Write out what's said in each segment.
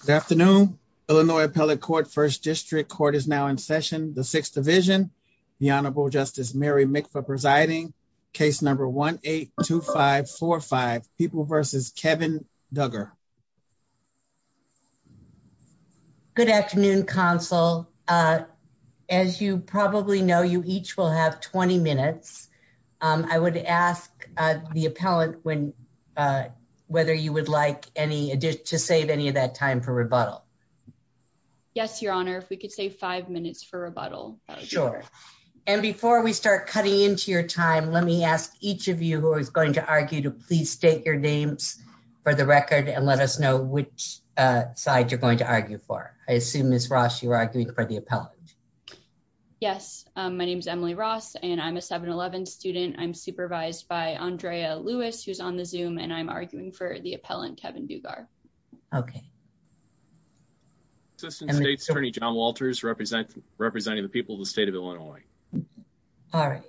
Good afternoon, Illinois Appellate Court, 1st District. Court is now in session, the 6th Division, the Honorable Justice Mary Mikva presiding, case number 1-8-2545, People v. Kevin Duggar. Good afternoon, counsel. As you probably know, you each will have 20 minutes. I would ask the appellant whether you would like to save any of that time for rebuttal. Yes, Your Honor, if we could save five minutes for rebuttal. Sure. And before we start cutting into your time, let me ask each of you who is going to argue to please state your names for the record and let us know which side you're going to argue for. I assume, Ms. Ross, you are arguing for the appellant. Yes, my name is Emily Ross, and I'm a 7-11 student. I'm supervised by Andrea Lewis, who's on the Zoom, and I'm arguing for the appellant, Kevin Duggar. Assistant State's Attorney, John Walters, representing the people of the state of Illinois. All right.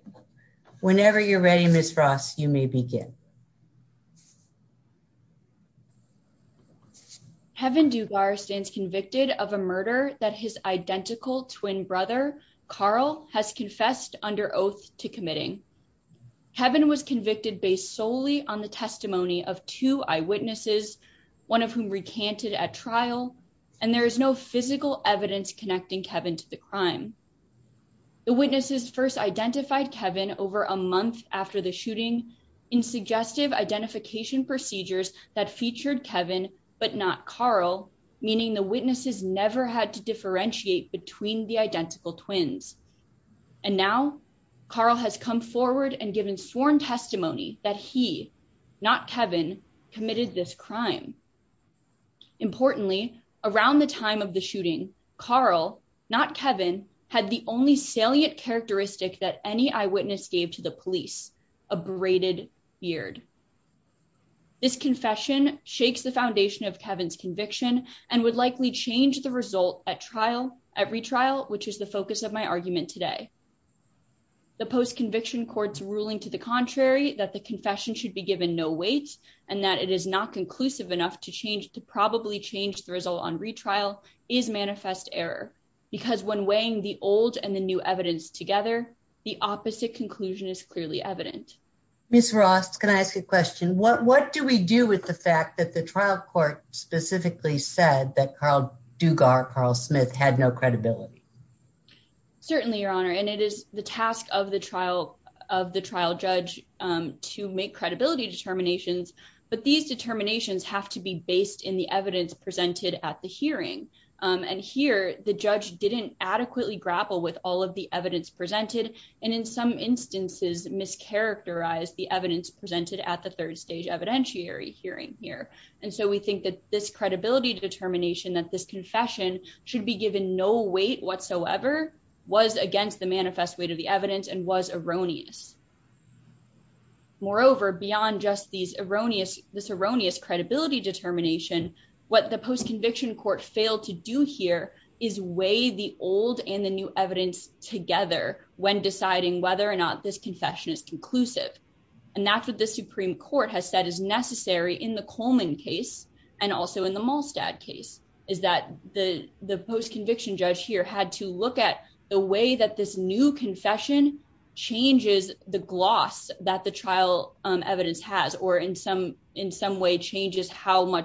Whenever you're ready, Ms. Ross, you may begin. Kevin Duggar stands convicted of a murder that his identical twin brother, Carl, has confessed under oath to committing. Kevin was convicted based solely on the testimony of two eyewitnesses, one of whom recanted at trial, and there is no physical evidence connecting Kevin to the crime. The witnesses first identified Kevin over a month after the shooting in suggestive identification procedures that featured Kevin, but not Carl, meaning the witnesses never had to differentiate between the identical twins. And now, Carl has come forward and given sworn testimony that he, not Kevin, committed this crime. Importantly, around the time of the shooting, Carl, not Kevin, had the only salient characteristic that any eyewitness gave to the police, a braided beard. This confession shakes the foundation of Kevin's conviction and would likely change the result at retrial, which is the focus of my argument today. The post-conviction court's ruling to the contrary, that the confession should be given no weight and that it is not conclusive enough to probably change the result on retrial, is manifest error. Because when weighing the old and the new evidence together, the opposite conclusion is clearly evident. Ms. Ross, can I ask a question? What do we do with the fact that the trial court specifically said that Carl Duggar, Carl Smith, had no credibility? Certainly, Your Honor, and it is the task of the trial judge to make credibility determinations. But these determinations have to be based in the evidence presented at the hearing. And here, the judge didn't adequately grapple with all of the evidence presented, and in some instances, mischaracterized the evidence presented at the third stage evidentiary hearing here. And so we think that this credibility determination, that this confession should be given no weight whatsoever, was against the manifest weight of the evidence and was erroneous. Moreover, beyond just this erroneous credibility determination, what the post-conviction court failed to do here is weigh the old and the new evidence together when deciding whether or not this confession is conclusive. And that's what the Supreme Court has said is necessary in the Coleman case, and also in the Malstad case, is that the post-conviction judge here had to look at the way that this new confession changes the gloss that the trial evidence has, or in some way changes how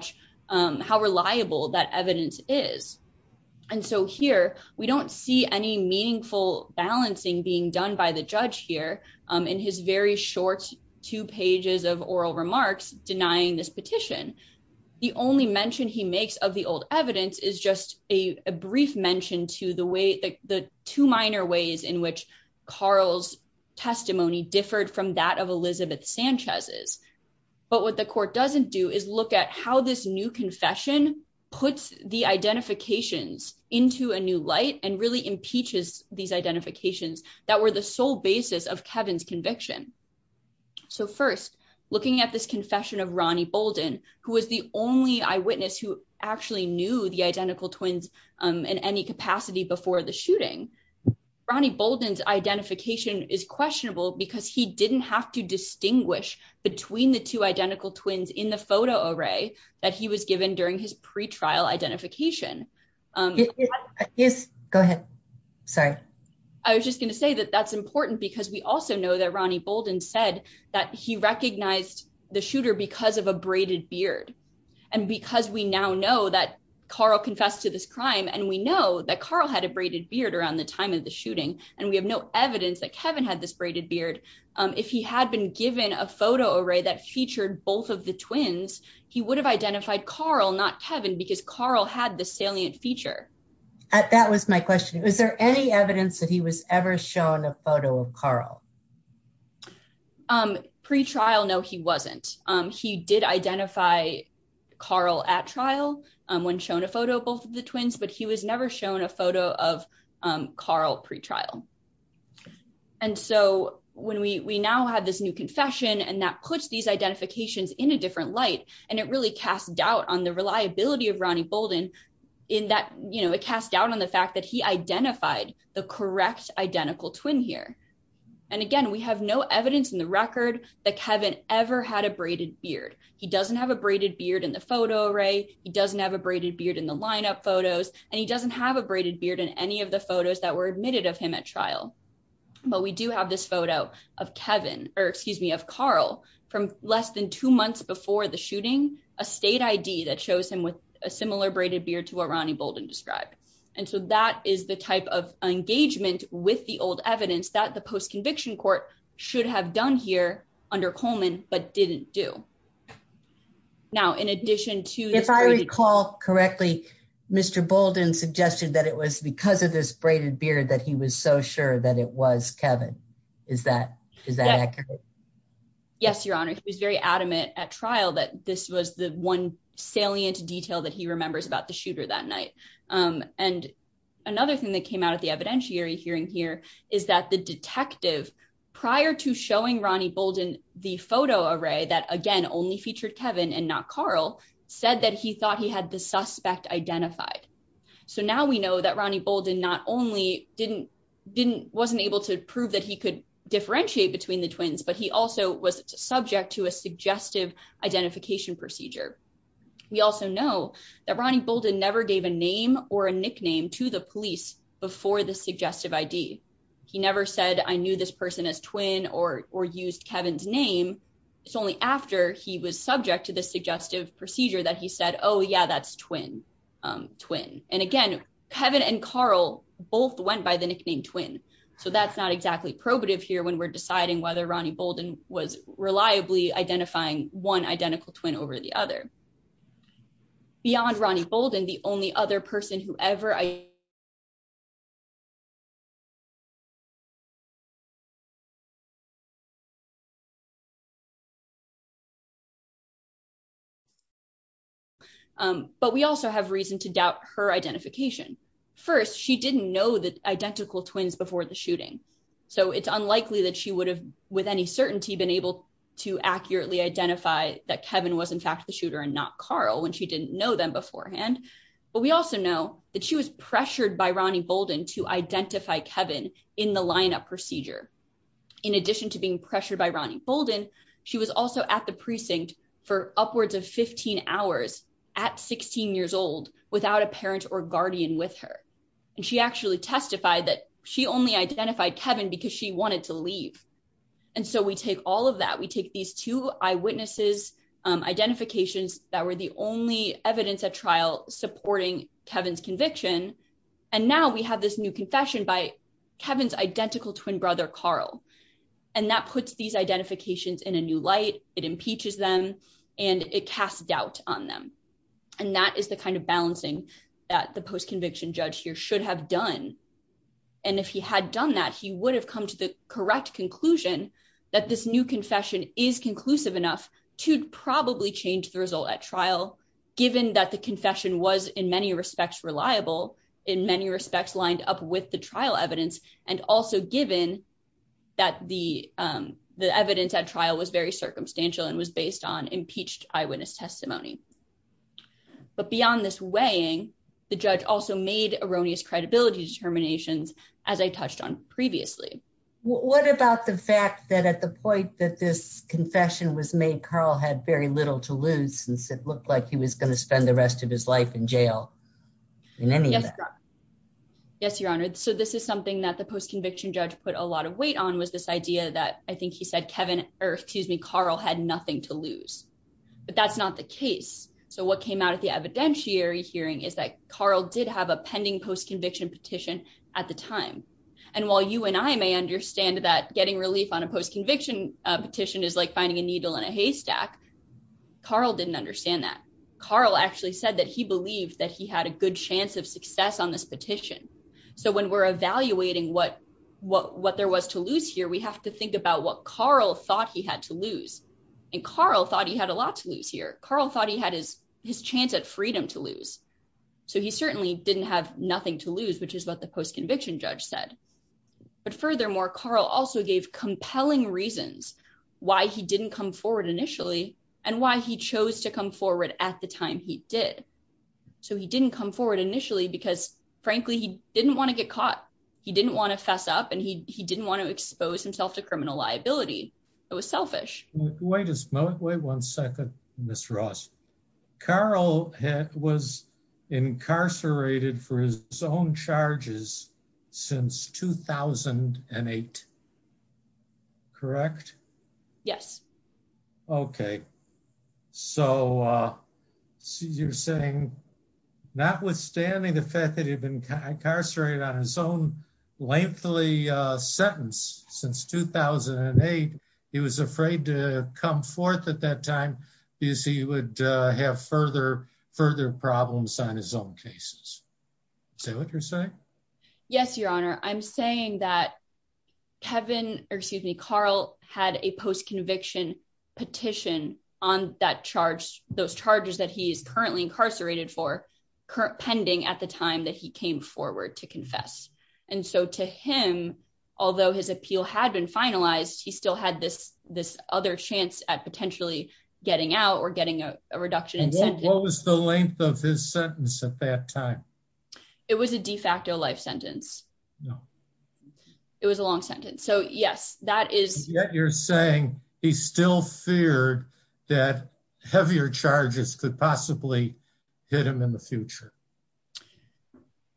reliable that evidence is. And so here, we don't see any meaningful balancing being done by the judge here in his very short two pages of oral remarks denying this petition. The only mention he makes of the old evidence is just a brief mention to the two minor ways in which Carl's testimony differed from that of Elizabeth Sanchez's. But what the court doesn't do is look at how this new confession puts the identifications into a new light and really impeaches these identifications that were the sole basis of Kevin's conviction. So first, looking at this confession of Ronnie Bolden, who was the only eyewitness who actually knew the identical twins in any capacity before the shooting, Ronnie Bolden's identification is questionable because he didn't have to distinguish between the two identical twins in the photo array that he was given during his pre-trial identification. Yes, go ahead. Sorry. I was just going to say that that's important because we also know that Ronnie Bolden said that he recognized the shooter because of a braided beard. And because we now know that Carl confessed to this crime and we know that Carl had a braided beard around the time of the shooting, and we have no evidence that Kevin had this braided beard. If he had been given a photo array that featured both of the twins, he would have identified Carl, not Kevin, because Carl had the salient feature. That was my question. Was there any evidence that he was ever shown a photo of Carl? Pre-trial, no, he wasn't. He did identify Carl at trial when shown a photo of both of the twins, but he was never shown a photo of Carl pre-trial. And so when we now have this new confession and that puts these identifications in a different light, and it really cast doubt on the reliability of Ronnie Bolden in that, you know, it cast doubt on the fact that he identified the correct identical twin here. And again, we have no evidence in the record that Kevin ever had a braided beard. He doesn't have a braided beard in the photo array. He doesn't have a braided beard in the lineup photos, and he doesn't have a braided beard in any of the photos that were admitted of him at trial. But we do have this photo of Carl from less than two months before the shooting, a state ID that shows him with a similar braided beard to what Ronnie Bolden described. And so that is the type of engagement with the old evidence that the post-conviction court should have done here under Coleman, but didn't do. Now, in addition to... If I recall correctly, Mr. Bolden suggested that it was because of this braided beard that he was so sure that it was Kevin. Is that accurate? Yes, Your Honor. He was very adamant at trial that this was the one salient detail that he remembers about the shooter that night. And another thing that came out of the evidentiary hearing here is that the detective, prior to showing Ronnie Bolden the photo array that, again, only featured Kevin and not Carl, said that he thought he had the suspect identified. So now we know that Ronnie Bolden not only wasn't able to prove that he could differentiate between the twins, but he also was subject to a suggestive identification procedure. We also know that Ronnie Bolden never gave a name or a nickname to the police before the suggestive ID. He never said, I knew this person as twin or used Kevin's name. It's only after he was subject to the suggestive procedure that he said, oh, yeah, that's twin. And again, Kevin and Carl both went by the nickname twin. So that's not exactly probative here when we're deciding whether Ronnie Bolden was reliably identifying one identical twin over the other. Beyond Ronnie Bolden, the only other person who ever identified as a twin. But we also have reason to doubt her identification. First, she didn't know the identical twins before the shooting. So it's unlikely that she would have with any certainty been able to accurately identify that Kevin was in fact the shooter and not Carl when she didn't know them beforehand. But we also know that she was pressured by Ronnie Bolden to identify Kevin in the lineup procedure. In addition to being pressured by Ronnie Bolden, she was also at the precinct for upwards of 15 hours at 16 years old without a parent or guardian with her. And she actually testified that she only identified Kevin because she wanted to leave. And so we take all of that we take these two eyewitnesses identifications that were the only evidence at trial supporting Kevin's conviction. And now we have this new confession by Kevin's identical twin brother Carl. And that puts these identifications in a new light, it impeaches them, and it casts doubt on them. And that is the kind of balancing that the post conviction judge here should have done. And if he had done that he would have come to the correct conclusion that this new confession is conclusive enough to probably change the result at trial, given that the confession was in many respects reliable in many respects lined up with the trial evidence, and also given that the, the evidence at trial was very circumstantial and was based on impeached eyewitness testimony. But beyond this weighing the judge also made erroneous credibility determinations, as I touched on previously. What about the fact that at the point that this confession was made Carl had very little to lose since it looked like he was going to spend the rest of his life in jail. In any. Yes, Your Honor. So this is something that the post conviction judge put a lot of weight on was this idea that I think he said Kevin, or excuse me Carl had nothing to lose. But that's not the case. So what came out of the evidentiary hearing is that Carl did have a pending post conviction petition at the time. And while you and I may understand that getting relief on a post conviction petition is like finding a needle in a So when we're evaluating what what what there was to lose here we have to think about what Carl thought he had to lose and Carl thought he had a lot to lose here, Carl thought he had his, his chance at freedom to lose. So he certainly didn't have nothing to lose, which is what the post conviction judge said. But furthermore, Carl also gave compelling reasons why he didn't come forward initially, and why he chose to come forward at the time he did. So he didn't come forward initially because, frankly, he didn't want to get caught. He didn't want to fess up and he didn't want to expose himself to criminal liability. It was selfish. Wait a minute, wait one second, Miss Ross. Carl was incarcerated for his own charges. Since 2008. Correct. Yes. Okay. So, you're saying, notwithstanding the fact that he'd been incarcerated on his own lengthily sentence since 2008, he was afraid to come forth at that time, is he would have further further problems on his own cases. Say what you're saying. Yes, Your Honor, I'm saying that Kevin, or excuse me Carl had a post conviction petition on that charge, those charges that he's currently incarcerated for current pending at the time that he came forward to confess. And so to him, although his appeal had been finalized he still had this, this other chance at potentially getting out or getting a reduction in what was the length of his sentence at that time. It was a de facto life sentence. It was a long sentence so yes, that is that you're saying he's still feared that heavier charges could possibly hit him in the future.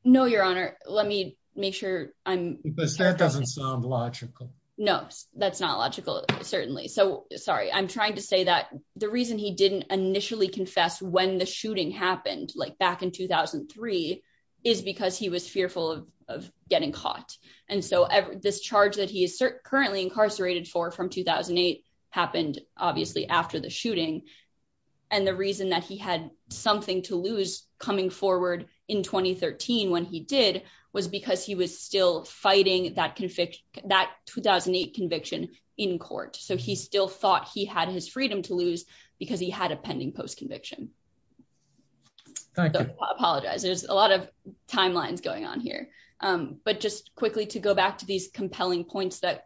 No, Your Honor, let me make sure I'm doesn't sound logical. No, that's not logical. Certainly. So, sorry, I'm trying to say that the reason he didn't initially confess when the shooting happened like back in 2003 is because he was fearful of getting caught. And so this charge that he is currently incarcerated for from 2008 happened, obviously after the shooting. And the reason that he had something to lose coming forward in 2013 when he did was because he was still fighting that conviction that 2008 conviction in court so he still thought he had his freedom to lose, because he had a pending post conviction. I apologize there's a lot of timelines going on here. But just quickly to go back to these compelling points that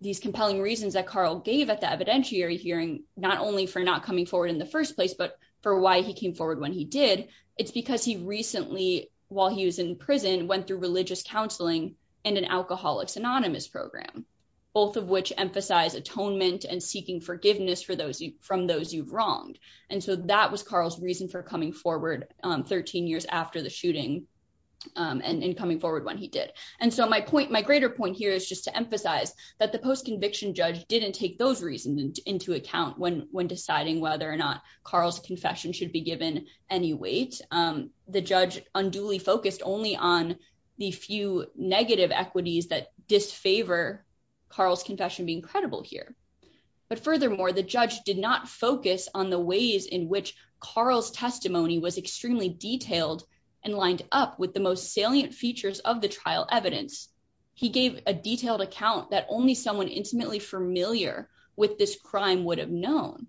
these compelling reasons that Carl gave at the evidentiary hearing, not only for not coming forward in the first place but for why he came forward when he did. It's because he recently, while he was in prison went through religious counseling and an Alcoholics Anonymous program, both of which emphasize atonement and seeking forgiveness for those from those you've wronged. And so that was Carl's reason for coming forward. 13 years after the shooting and coming forward when he did. And so my point my greater point here is just to emphasize that the post conviction judge didn't take those reasons into account when when deciding whether or not Carl's confession should be given any weight. The judge unduly focused only on the few negative equities that disfavor Carl's confession being credible here. But furthermore, the judge did not focus on the ways in which Carl's testimony was extremely detailed and lined up with the most salient features of the trial evidence. He gave a detailed account that only someone intimately familiar with this crime would have known.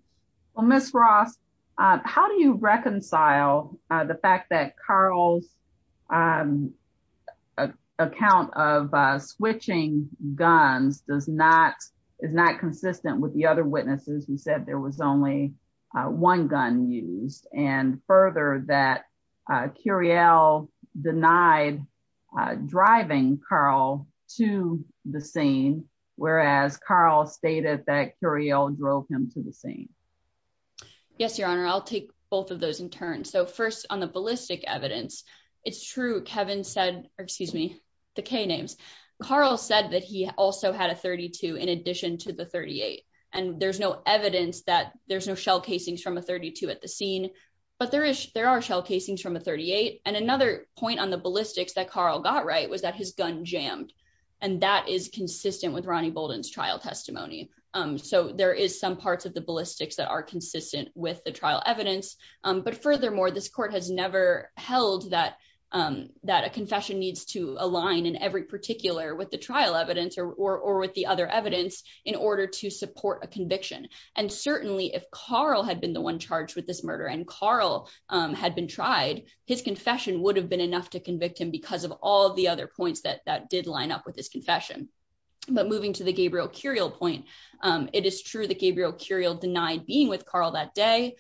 Miss Ross. How do you reconcile the fact that Carl's account of switching guns does not is not consistent with the other witnesses who said there was only one gun used and further that Curiel denied driving Carl to the scene. Whereas Carl stated that Curiel drove him to the scene. Yes, Your Honor, I'll take both of those in turn so first on the ballistic evidence. It's true Kevin said, or excuse me, the K names. Carl said that he also had a 32 in addition to the 38, and there's no evidence that there's no shell casings from a 32 at the trial testimony. So there is some parts of the ballistics that are consistent with the trial evidence, but furthermore this court has never held that that a confession needs to align in every particular with the trial evidence or with the other evidence in order to move on moving to the Gabriel Curiel point. It is true that Gabriel Curiel denied being with Carl that day.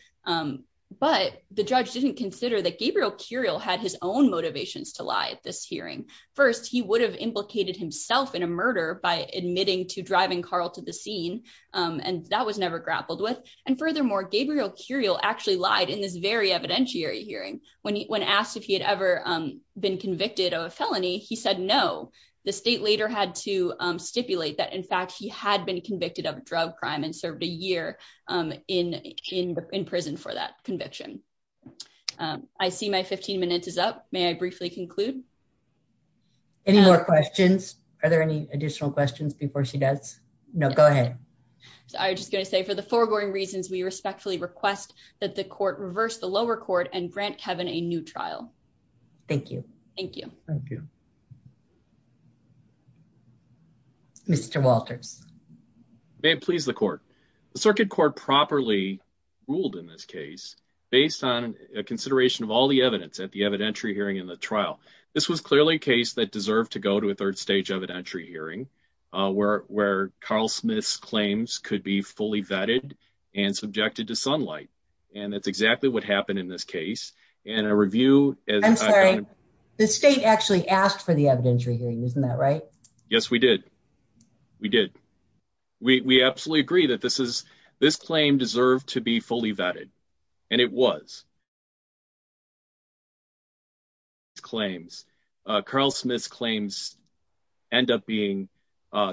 But the judge didn't consider that Gabriel Curiel had his own motivations to lie at this hearing. First, he would have implicated himself in a murder by admitting to driving Carl to the scene. And that was never grappled with. And furthermore, Gabriel Curiel actually lied in this very evidentiary hearing when he when asked if he had ever been convicted of a felony he said no. The state later had to stipulate that in fact he had been convicted of drug crime and served a year in in prison for that conviction. I see my 15 minutes is up, may I briefly conclude. Any more questions. Are there any additional questions before she does know go ahead. So I just going to say for the foregoing reasons we respectfully request that the court reverse the lower court and grant Kevin a new trial. Thank you. Thank you. Mr Walters. Please the court, the circuit court properly ruled in this case, based on a consideration of all the evidence at the evidentiary hearing in the trial. This was clearly a case that deserved to go to a third stage evidentiary hearing where where Carl Smith's claims could be fully vetted and subjected to sunlight. And that's exactly what happened in this case, and a review. The state actually asked for the evidentiary hearing isn't that right. Yes, we did. We did. We absolutely agree that this is this claim deserve to be fully vetted. And it was claims, Carl Smith's claims end up being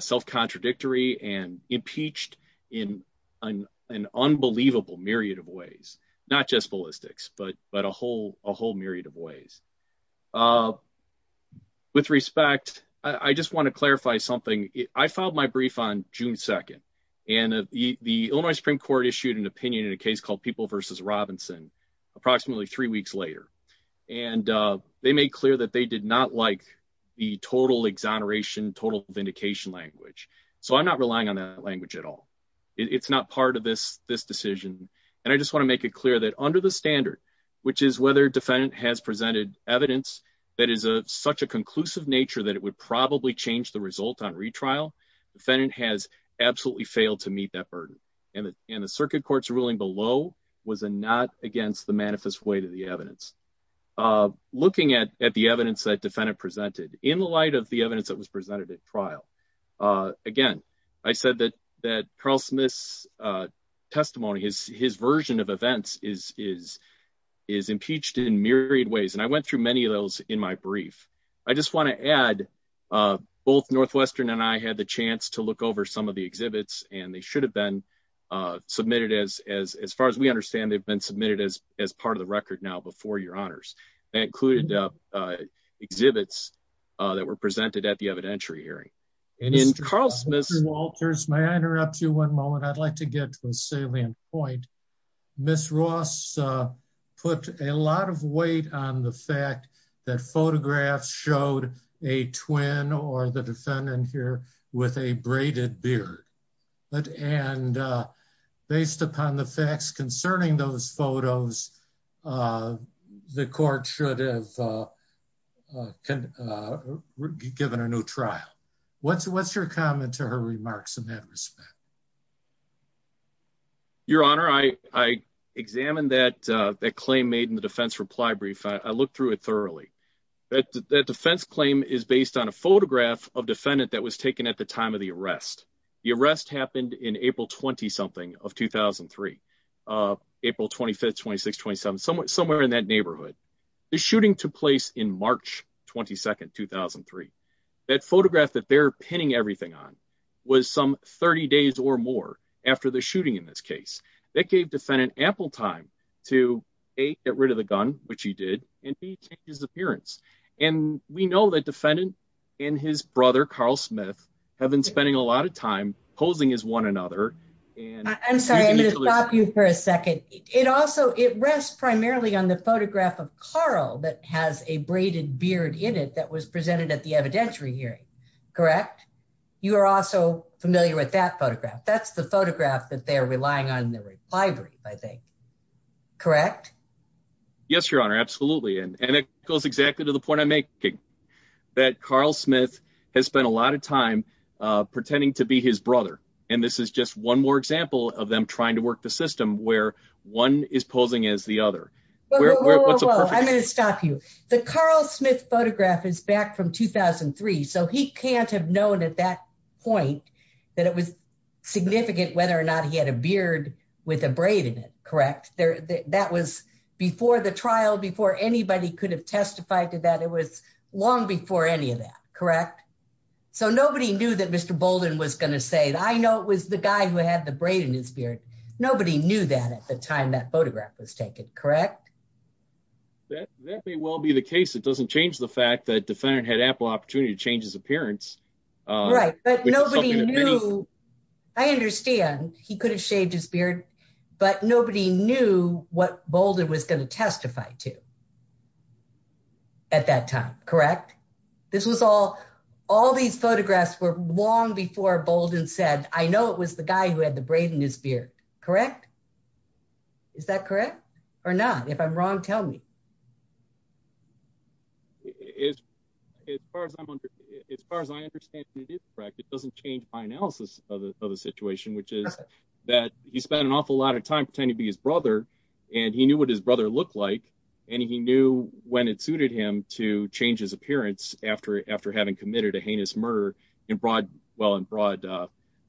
self contradictory and impeached in an unbelievable myriad of ways, not just ballistics but but a whole, a whole myriad of ways. With respect, I just want to clarify something I filed my brief on June 2, and the Illinois Supreme Court issued an opinion in a case called people versus Robinson, approximately three weeks later, and they made clear that they did not like the total exoneration total vindication language. So I'm not relying on that language at all. It's not part of this, this decision. And I just want to make it clear that under the standard, which is whether defendant has presented evidence that is a such a conclusive nature that it would probably change the result on retrial defendant has absolutely failed to meet that burden, and in the circuit courts ruling below was a not against the manifest way to the evidence of looking at at the evidence that defendant presented in the light of the evidence that was presented Again, I said that that Carl Smith's testimony is his version of events is is is impeached in myriad ways and I went through many of those in my brief, I just want to add both Northwestern and I had the chance to look over some of the exhibits, and they should have been submitted as, as, as far as we understand they've been submitted as, as part of the record now before your honors that included exhibits that were presented at the evidentiary hearing, and in Carl Smith's Walters may I interrupt you one moment I'd like to get to a salient point, Miss Ross put a lot of weight on the fact that photographs showed a twin or the defendant here with a braided beard, but and based upon the facts concerning those photos. The court should have given a new trial. What's what's your comment to her remarks in that respect. Your Honor, I, I examined that that claim made in the defense reply brief I looked through it thoroughly that that defense claim is based on a photograph of defendant that was taken at the time of the arrest. The arrest happened in April 20 something of 2003, April 25 2627 somewhere somewhere in that neighborhood. The shooting took place in March, 22 2003 that photograph that they're pinning everything on was some 30 days or more. After the shooting in this case that gave defendant ample time to a get rid of the gun, which he did, and he changed his appearance. And we know that defendant in his brother Carl Smith have been spending a lot of time posing is one another. And I'm sorry for a second, it also it rests primarily on the photograph of Carl that has a braided beard in it that was presented at the evidentiary hearing. Correct. You are also familiar with that photograph that's the photograph that they're relying on the library, I think. Correct. Yes, Your Honor. Absolutely. And it goes exactly to the point I make that Carl Smith has spent a lot of time pretending to be his brother, and this is just one more example of them trying to work the system where one is posing as the other. I'm going to stop you. The Carl Smith photograph is back from 2003 so he can't have known at that point that it was significant whether or not he had a beard with a braid in it. Correct. There. That was before the trial before anybody could have testified to that it was long before any of that. Correct. So nobody knew that Mr. Bolden was going to say that I know it was the guy who had the braid in his beard. Nobody knew that at the time that photograph was taken. Correct. That may well be the case it doesn't change the fact that defendant had ample opportunity to change his appearance. Right, but nobody knew. I understand he could have shaved his beard, but nobody knew what Bolden was going to testify to at that time. Correct. This was all, all these photographs were long before Bolden said, I know it was the guy who had the braid in his beard. Correct. Is that correct or not? If I'm wrong, tell me. As far as I'm as far as I understand it is correct it doesn't change my analysis of the situation which is that he spent an awful lot of time pretending to be his brother, and he knew what his brother looked like, and he knew when it suited him to change his appearance after having committed a heinous murder in broad, well in broad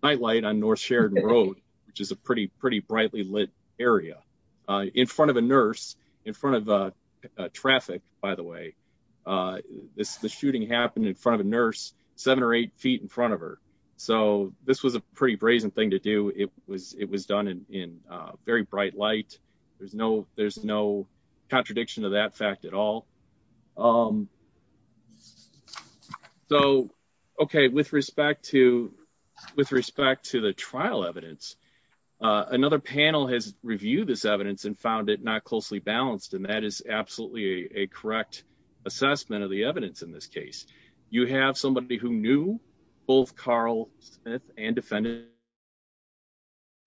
nightlight on North Sheridan Road, which is a pretty pretty brightly lit area in front of a nurse in front of traffic, by the way, this the shooting happened in front of a nurse, seven or eight feet in front of her. So, this was a pretty brazen thing to do it was it was done in very bright light. There's no, there's no contradiction to that fact at all. So, okay, with respect to, with respect to the trial evidence, another panel has reviewed this evidence and found it not closely balanced and that is absolutely a correct assessment of the evidence in this case. You have somebody who knew both Carl Smith and defendant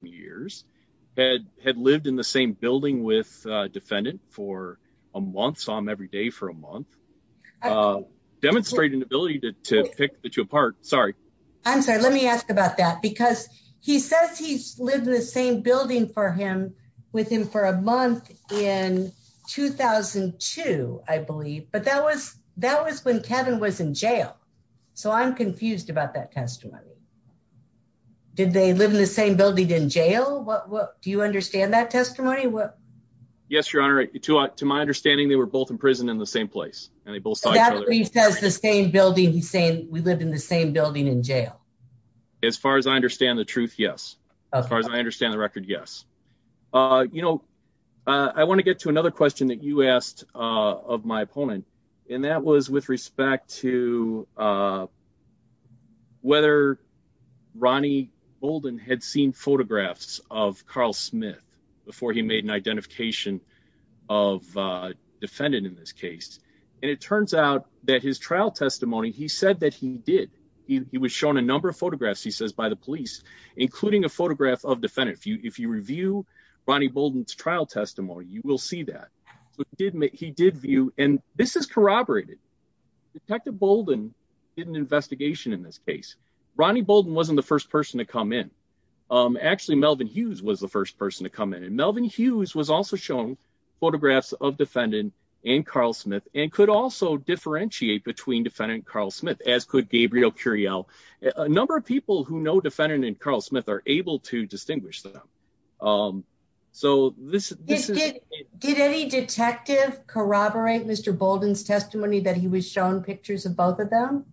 years had had lived in the same building with defendant for a month saw him every day for a month. Demonstrate an ability to pick the two apart. Sorry. I'm sorry, let me ask about that because he says he's lived in the same building for him with him for a month in 2002, I believe, but that was, that was when Kevin was in jail. So I'm confused about that testimony. Did they live in the same building in jail, what do you understand that testimony what. Yes, Your Honor, to my understanding they were both in prison in the same place, and they both have the same building he's saying we live in the same building in jail. As far as I understand the truth. Yes. As far as I understand the record. Yes. You know, I want to get to another question that you asked of my opponent. And that was with respect to whether Ronnie Bolden had seen photographs of Carl Smith, before he made an identification of defendant in this case, and it turns out that his trial testimony he said that he did, he was shown a number of photographs he says by the police, including a photograph of defendant if you if you review, Ronnie Bolden trial testimony you will see that didn't he did view, and this is corroborated detective investigation in this case, Ronnie Bolden wasn't the first person to come in. Actually Melvin Hughes was the first person to come in and Melvin Hughes was also shown photographs of defendant and Carl Smith, and could also differentiate between defendant Carl Smith as could Gabriel Curiel number of people who know defendant and Carl Smith are able to distinguish them. So, this is, did any detective corroborate Mr Bolden's testimony that he was shown pictures of both of them.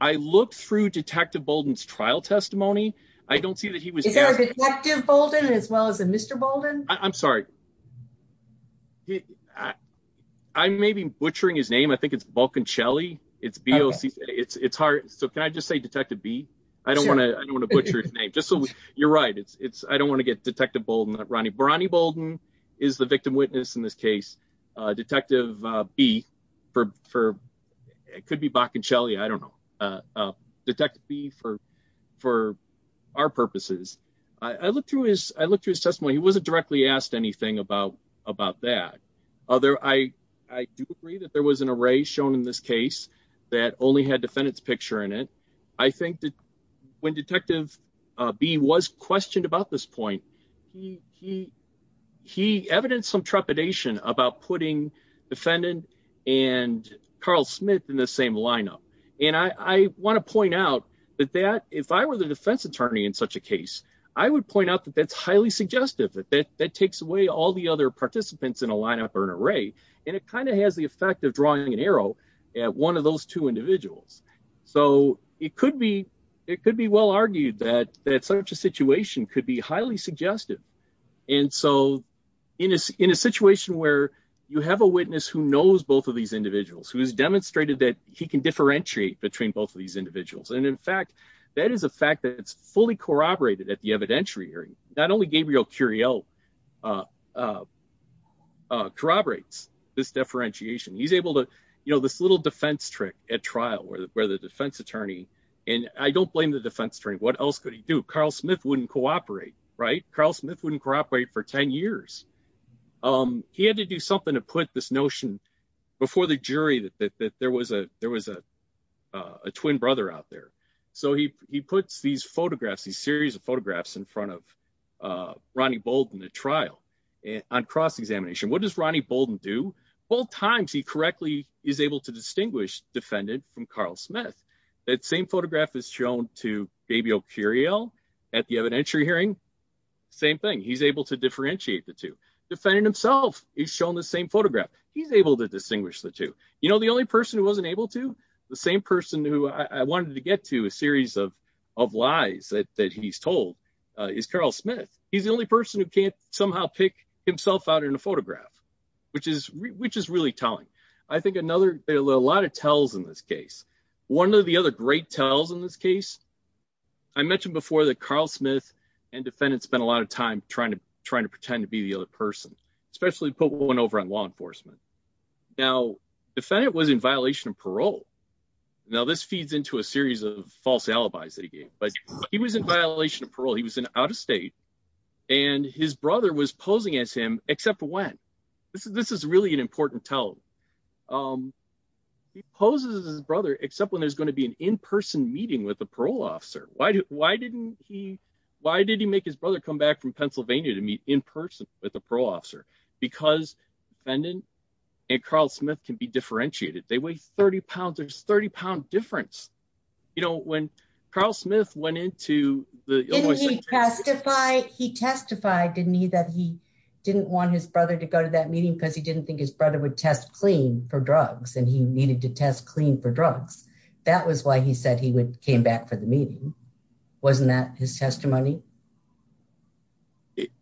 I looked through detective Bolden's trial testimony. I don't see that he was active Bolden as well as a Mr Bolden, I'm sorry. I may be butchering his name I think it's Vulcan Shelley, it's BLC it's it's hard. So can I just say detective be. I don't want to, I don't want to butcher his name just so you're right it's it's I don't want to get detective Bolden that Ronnie Bolden is the victim witness in this case, detective be for for. It could be back and Shelley I don't know. Detective be for for our purposes. I looked through his, I looked through his testimony he wasn't directly asked anything about, about that other I, I do agree that there was an array shown in this case that only had defendants picture in it. I think that when detective be was questioned about this point. He, he, he evidence some trepidation about putting defendant and Carl Smith in the same lineup. And I want to point out that that if I were the defense attorney in such a case, I would point out that that's highly suggestive that that that takes away all the other participants in a lineup or an array, and it kind of has the effect of drawing an arrow at one of those two individuals. So, it could be, it could be well argued that that such a situation could be highly suggestive. And so, in a, in a situation where you have a witness who knows both of these individuals who has demonstrated that he can differentiate between both of these individuals and in fact that is a fact that it's fully corroborated at the evidentiary, not only Gabriel Curiel corroborates this differentiation he's able to, you know, this little defense trick at trial where the where the defense attorney, and I don't blame the defense attorney what else could he do Carl Smith wouldn't cooperate right Carl Smith wouldn't cooperate for 10 years. Um, he had to do something to put this notion before the jury that there was a, there was a twin brother out there. So he, he puts these photographs a series of photographs in front of Ronnie Bolden the trial on cross examination what does Ronnie Bolden do both times he correctly is able to distinguish defendant from Carl Smith, that same photograph is shown to Gabriel Curiel at the evidentiary hearing. Same thing he's able to differentiate the two defending himself, he's shown the same photograph, he's able to distinguish the two, you know, the only person who wasn't able to the same person who I wanted to get to a series of of lies that he's told is Carl Smith, he's the only person who can't somehow pick himself out in a photograph, which is, which is really telling. I think another a lot of tells in this case, one of the other great tells in this case. I mentioned before that Carl Smith and defendants spent a lot of time trying to trying to pretend to be the other person, especially put one over on law enforcement. Now, defendant was in violation of parole. Now this feeds into a series of false alibis that he gave, but he was in violation of parole he was in out of state, and his brother was posing as him, except when this is this is really an important tell. He poses his brother, except when there's going to be an in person meeting with the parole officer, why, why didn't he, why did he make his brother come back from Pennsylvania to meet in person with a parole officer, because defendant and Carl Smith can be differentiated they weigh 30 pounds or 30 pound difference. You know when Carl Smith went into the testify, he testified, didn't he that he didn't want his brother to go to that meeting because he didn't think his brother would test clean for drugs and he needed to test clean for drugs. That was why he said he would came back for the meeting. Wasn't that his testimony.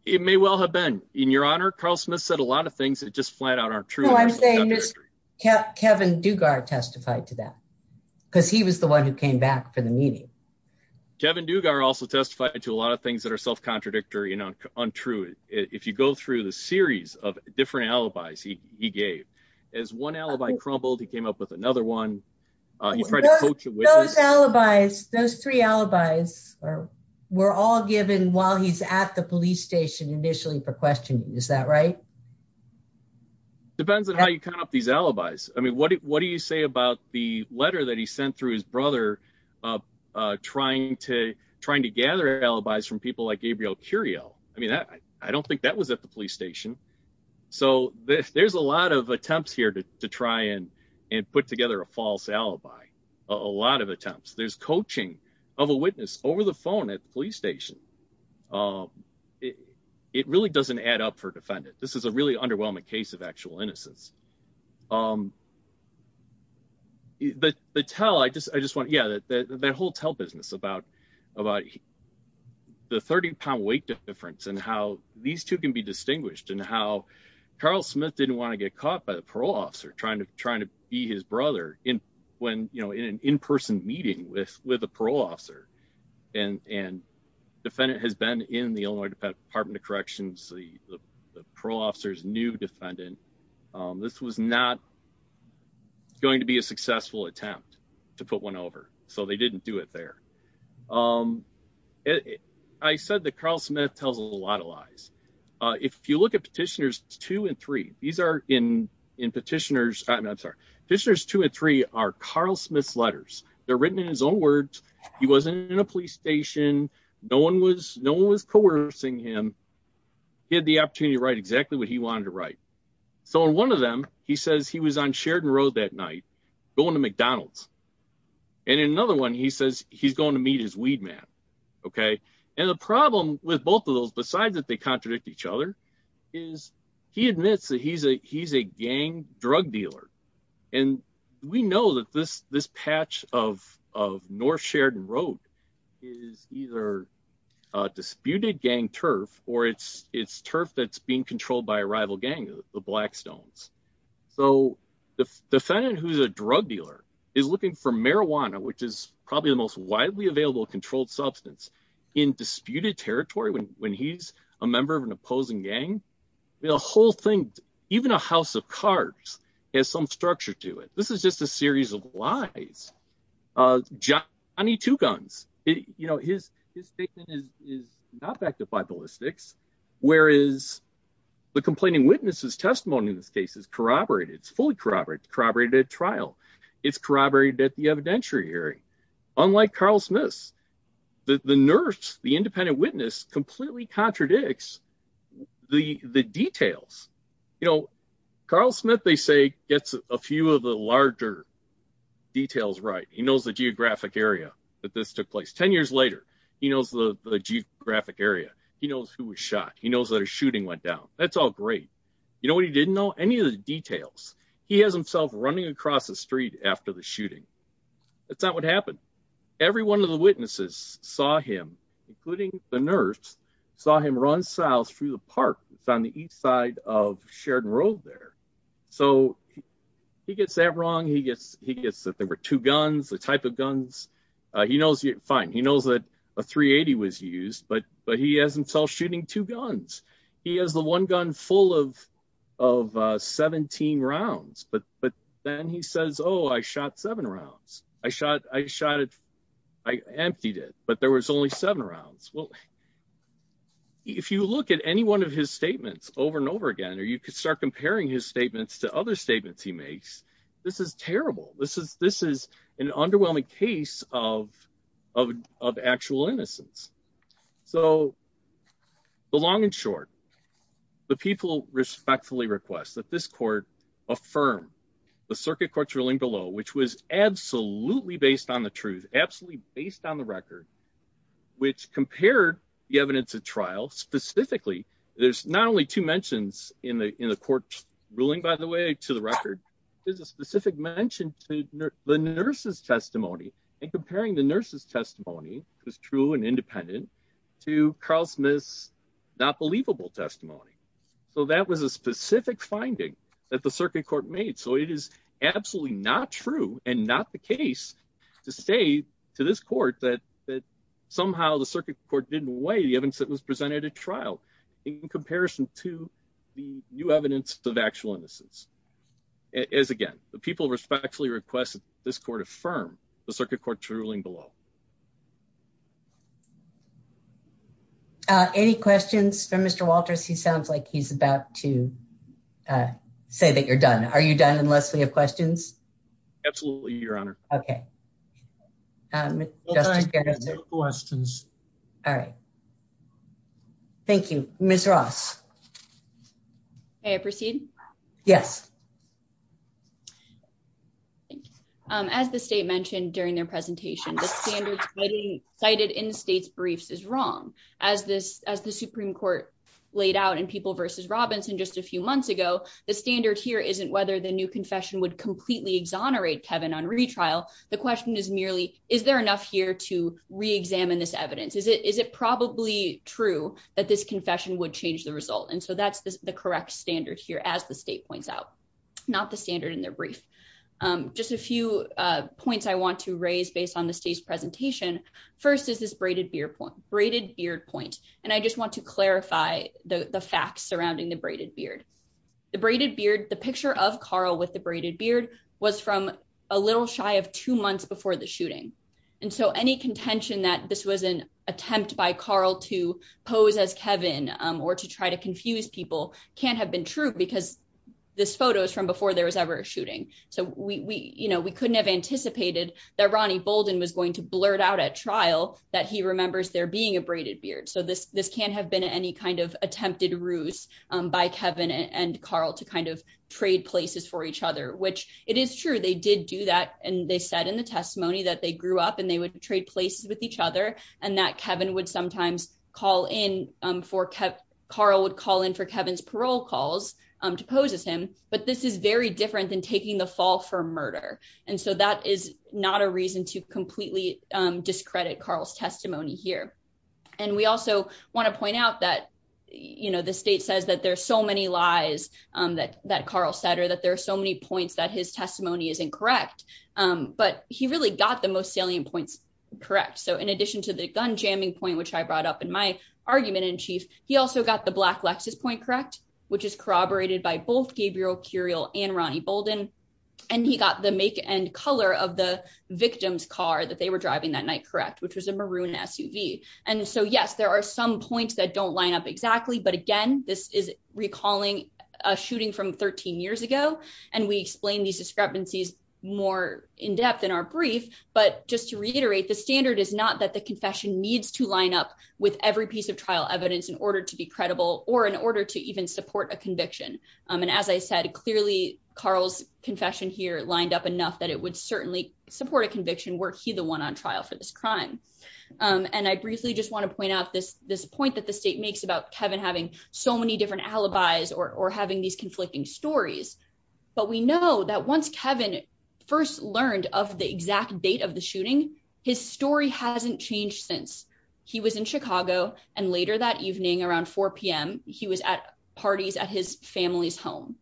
It may well have been in your honor Carl Smith said a lot of things that just flat out aren't true. I'm saying just kept Kevin Dugar testified to that, because he was the one who came back for the meeting. Kevin Dugar also testified to a lot of things that are self contradictory and untrue. If you go through the series of different alibis he gave as one alibi crumbled he came up with another one. Alibis those three alibis, or we're all given while he's at the police station initially for questioning is that right. Depends on how you come up these alibis, I mean what what do you say about the letter that he sent through his brother, trying to trying to gather alibis from people like Gabriel Curiel, I mean that I don't think that was at the police station. So, there's a lot of attempts here to try and and put together a false alibi. A lot of attempts there's coaching of a witness over the phone at police station. It really doesn't add up for defendant. This is a really underwhelming case of actual innocence. But the tell I just I just want yeah that that whole tell business about about the 30 pound weight difference and how these two can be distinguished and how Carl Smith didn't want to get caught by the parole officer trying to trying to be his brother in when you know in an in person meeting with with a parole officer and and defendant has been in the Illinois Department of Corrections, the pro officers new defendant. This was not going to be a successful attempt to put one over, so they didn't do it there. I said that Carl Smith tells a lot of lies. If you look at petitioners two and three, these are in in petitioners, I'm sorry, this year's two and three are Carl Smith's letters, they're written in his own words, he wasn't in a police station, no one was no one was coercing him. He had the opportunity to write exactly what he wanted to write. So in one of them, he says he was on Sheridan Road that night, going to McDonald's, and another one he says he's going to meet his weed man. Okay. And the problem with both of those besides that they contradict each other is he admits that he's a he's a gang drug dealer. And we know that this this patch of of North Sheridan Road is either disputed gang turf, or it's it's turf that's being controlled by a rival gang, the Blackstones. So, the defendant who's a drug dealer is looking for marijuana, which is probably the most widely available controlled substance in disputed territory when when he's a member of an opposing gang. The whole thing, even a house of cards has some structure to it. This is just a series of lies. Johnny Two Guns, you know, his, his statement is not back to five ballistics. Whereas the complaining witnesses testimony in this case is corroborated, it's fully corroborated, corroborated trial. It's corroborated at the evidentiary. Unlike Carl Smith, the nurse, the independent witness completely contradicts the the details. You know, Carl Smith, they say, gets a few of the larger details right, he knows the geographic area that this took place 10 years later, he knows the geographic area, he knows who was shot, he knows that a shooting went down, that's all great. You know what he didn't know? Any of the details. He has himself running across the street after the shooting. That's not what happened. Every one of the witnesses saw him, including the nurse, saw him run south through the park on the east side of Sheridan Road there. So, he gets that wrong. He gets that there were two guns, the type of guns. He knows, fine, he knows that a .380 was used, but he has himself shooting two guns. He has the one gun full of 17 rounds, but then he says, oh, I shot seven rounds. I shot it, I emptied it, but there was only seven rounds. Well, if you look at any one of his statements over and over again, or you could start comparing his statements to other statements he makes, this is terrible. This is an underwhelming case of actual innocence. So, the long and short, the people respectfully request that this court affirm the circuit court's ruling below, which was absolutely based on the truth, absolutely based on the record, which compared the evidence at trial, specifically, there's not only two mentions in the court's ruling, by the way, to the record, there's a specific mention to the nurse's testimony. And comparing the nurse's testimony, which is true and independent, to Carl Smith's not believable testimony. So, that was a specific finding that the circuit court made. So, it is absolutely not true and not the case to say to this court that somehow the circuit court didn't weigh the evidence that was presented at trial in comparison to the new evidence of actual innocence. It is, again, the people respectfully request that this court affirm the circuit court's ruling below. Any questions for Mr. Walters? He sounds like he's about to say that you're done. Are you done, unless we have questions? Absolutely, Your Honor. Okay. No questions. All right. Thank you. Ms. Ross? May I proceed? Yes. As the state mentioned during their presentation, the standards cited in the state's briefs is wrong. As the Supreme Court laid out in People v. Robinson just a few months ago, the standard here isn't whether the new confession would completely exonerate Kevin on retrial. The question is merely, is there enough here to reexamine this evidence? Is it probably true that this confession would change the result? And so, that's the correct standard here, as the state points out, not the standard in their brief. Just a few points I want to raise based on the state's presentation. First is this braided beard point. And I just want to clarify the facts surrounding the braided beard. The braided beard, the picture of Carl with the braided beard was from a little shy of two months before the shooting. And so, any contention that this was an attempt by Carl to pose as Kevin or to try to confuse people can't have been true because this photo is from before there was ever a shooting. So, we couldn't have anticipated that Ronnie Bolden was going to blurt out at trial that he remembers there being a braided beard. So, this can't have been any kind of attempted ruse by Kevin and Carl to kind of trade places for each other. Which, it is true, they did do that and they said in the testimony that they grew up and they would trade places with each other and that Kevin would sometimes call in for, Carl would call in for Kevin's parole calls to pose as him. But this is very different than taking the fall for murder. And so, that is not a reason to completely discredit Carl's testimony here. And we also want to point out that, you know, the state says that there's so many lies that Carl said or that there are so many points that his testimony is incorrect. But he really got the most salient points correct. So, in addition to the gun jamming point, which I brought up in my argument in chief, he also got the black Lexus point correct, which is corroborated by both Gabriel Curiel and Ronnie Bolden. And he got the make and color of the victim's car that they were driving that night correct, which was a maroon SUV. And so, yes, there are some points that don't line up exactly, but again, this is recalling a shooting from 13 years ago. And we explained these discrepancies more in depth in our brief, but just to reiterate the standard is not that the confession needs to line up with every piece of trial evidence in order to be credible or in order to even support a conviction. And as I said, clearly, Carl's confession here lined up enough that it would certainly support a conviction were he the one on trial for this crime. And I briefly just want to point out this, this point that the state makes about Kevin having so many different alibis or having these conflicting stories. But we know that once Kevin first learned of the exact date of the shooting, his story hasn't changed since. He was in Chicago, and later that evening around 4pm, he was at parties at his family's home.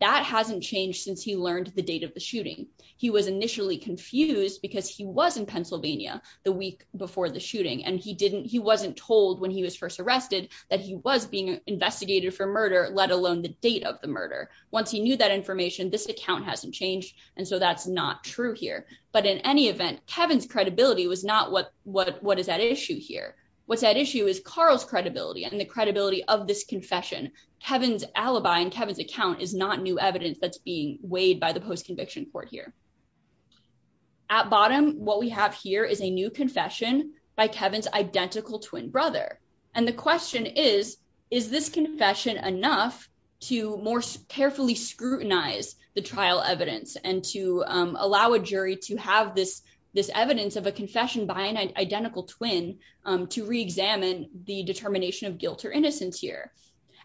That hasn't changed since he learned the date of the shooting. He was initially confused because he was in Pennsylvania, the week before the shooting, and he wasn't told when he was first arrested that he was being investigated for murder, let alone the date of the murder. Once he knew that information, this account hasn't changed. And so that's not true here. But in any event, Kevin's credibility was not what is at issue here. What's at issue is Carl's credibility and the credibility of this confession. Kevin's alibi and Kevin's account is not new evidence that's being weighed by the post-conviction court here. At bottom, what we have here is a new confession by Kevin's identical twin brother. And the question is, is this confession enough to more carefully scrutinize the trial evidence and to allow a jury to have this, this evidence of a confession by an identical twin to re-examine the determination of guilt or innocence here?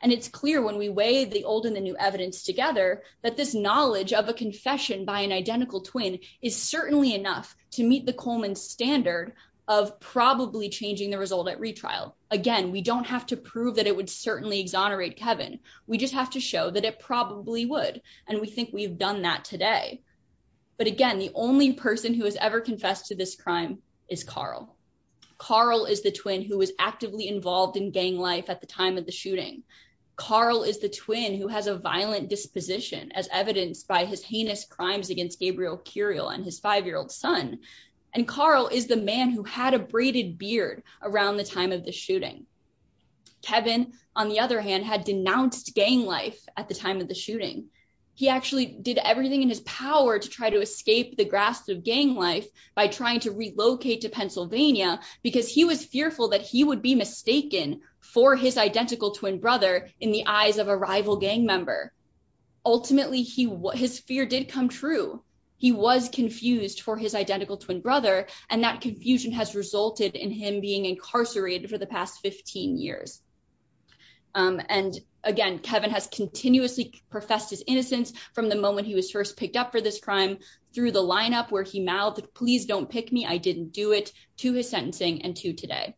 And it's clear when we weigh the old and the new evidence together that this knowledge of a confession by an identical twin is certainly enough to meet the Coleman standard of probably changing the result at retrial. Again, we don't have to prove that it would certainly exonerate Kevin. We just have to show that it probably would. And we think we've done that today. But again, the only person who has ever confessed to this crime is Carl. Carl is the twin who was actively involved in gang life at the time of the shooting. Carl is the twin who has a violent disposition as evidenced by his heinous crimes against Gabriel Curiel and his five-year-old son. And Carl is the man who had a braided beard around the time of the shooting. Kevin, on the other hand, had denounced gang life at the time of the shooting. He actually did everything in his power to try to escape the grasp of gang life by trying to relocate to Pennsylvania because he was fearful that he would be mistaken for his identical twin brother in the eyes of a rival gang member. Ultimately, his fear did come true. He was confused for his identical twin brother, and that confusion has resulted in him being incarcerated for the past 15 years. And again, Kevin has continuously professed his innocence from the moment he was first picked up for this crime through the lineup where he mouthed, please don't pick me, I didn't do it, to his sentencing, and to today.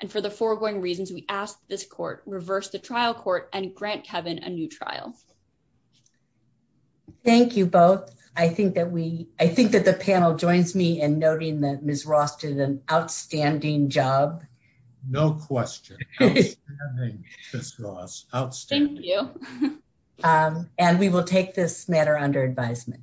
And for the foregoing reasons, we ask that this court reverse the trial court and grant Kevin a new trial. Thank you both. I think that the panel joins me in noting that Ms. Ross did an outstanding job. No question. Outstanding, Ms. Ross. Outstanding. Thank you. And we will take this matter under advisement.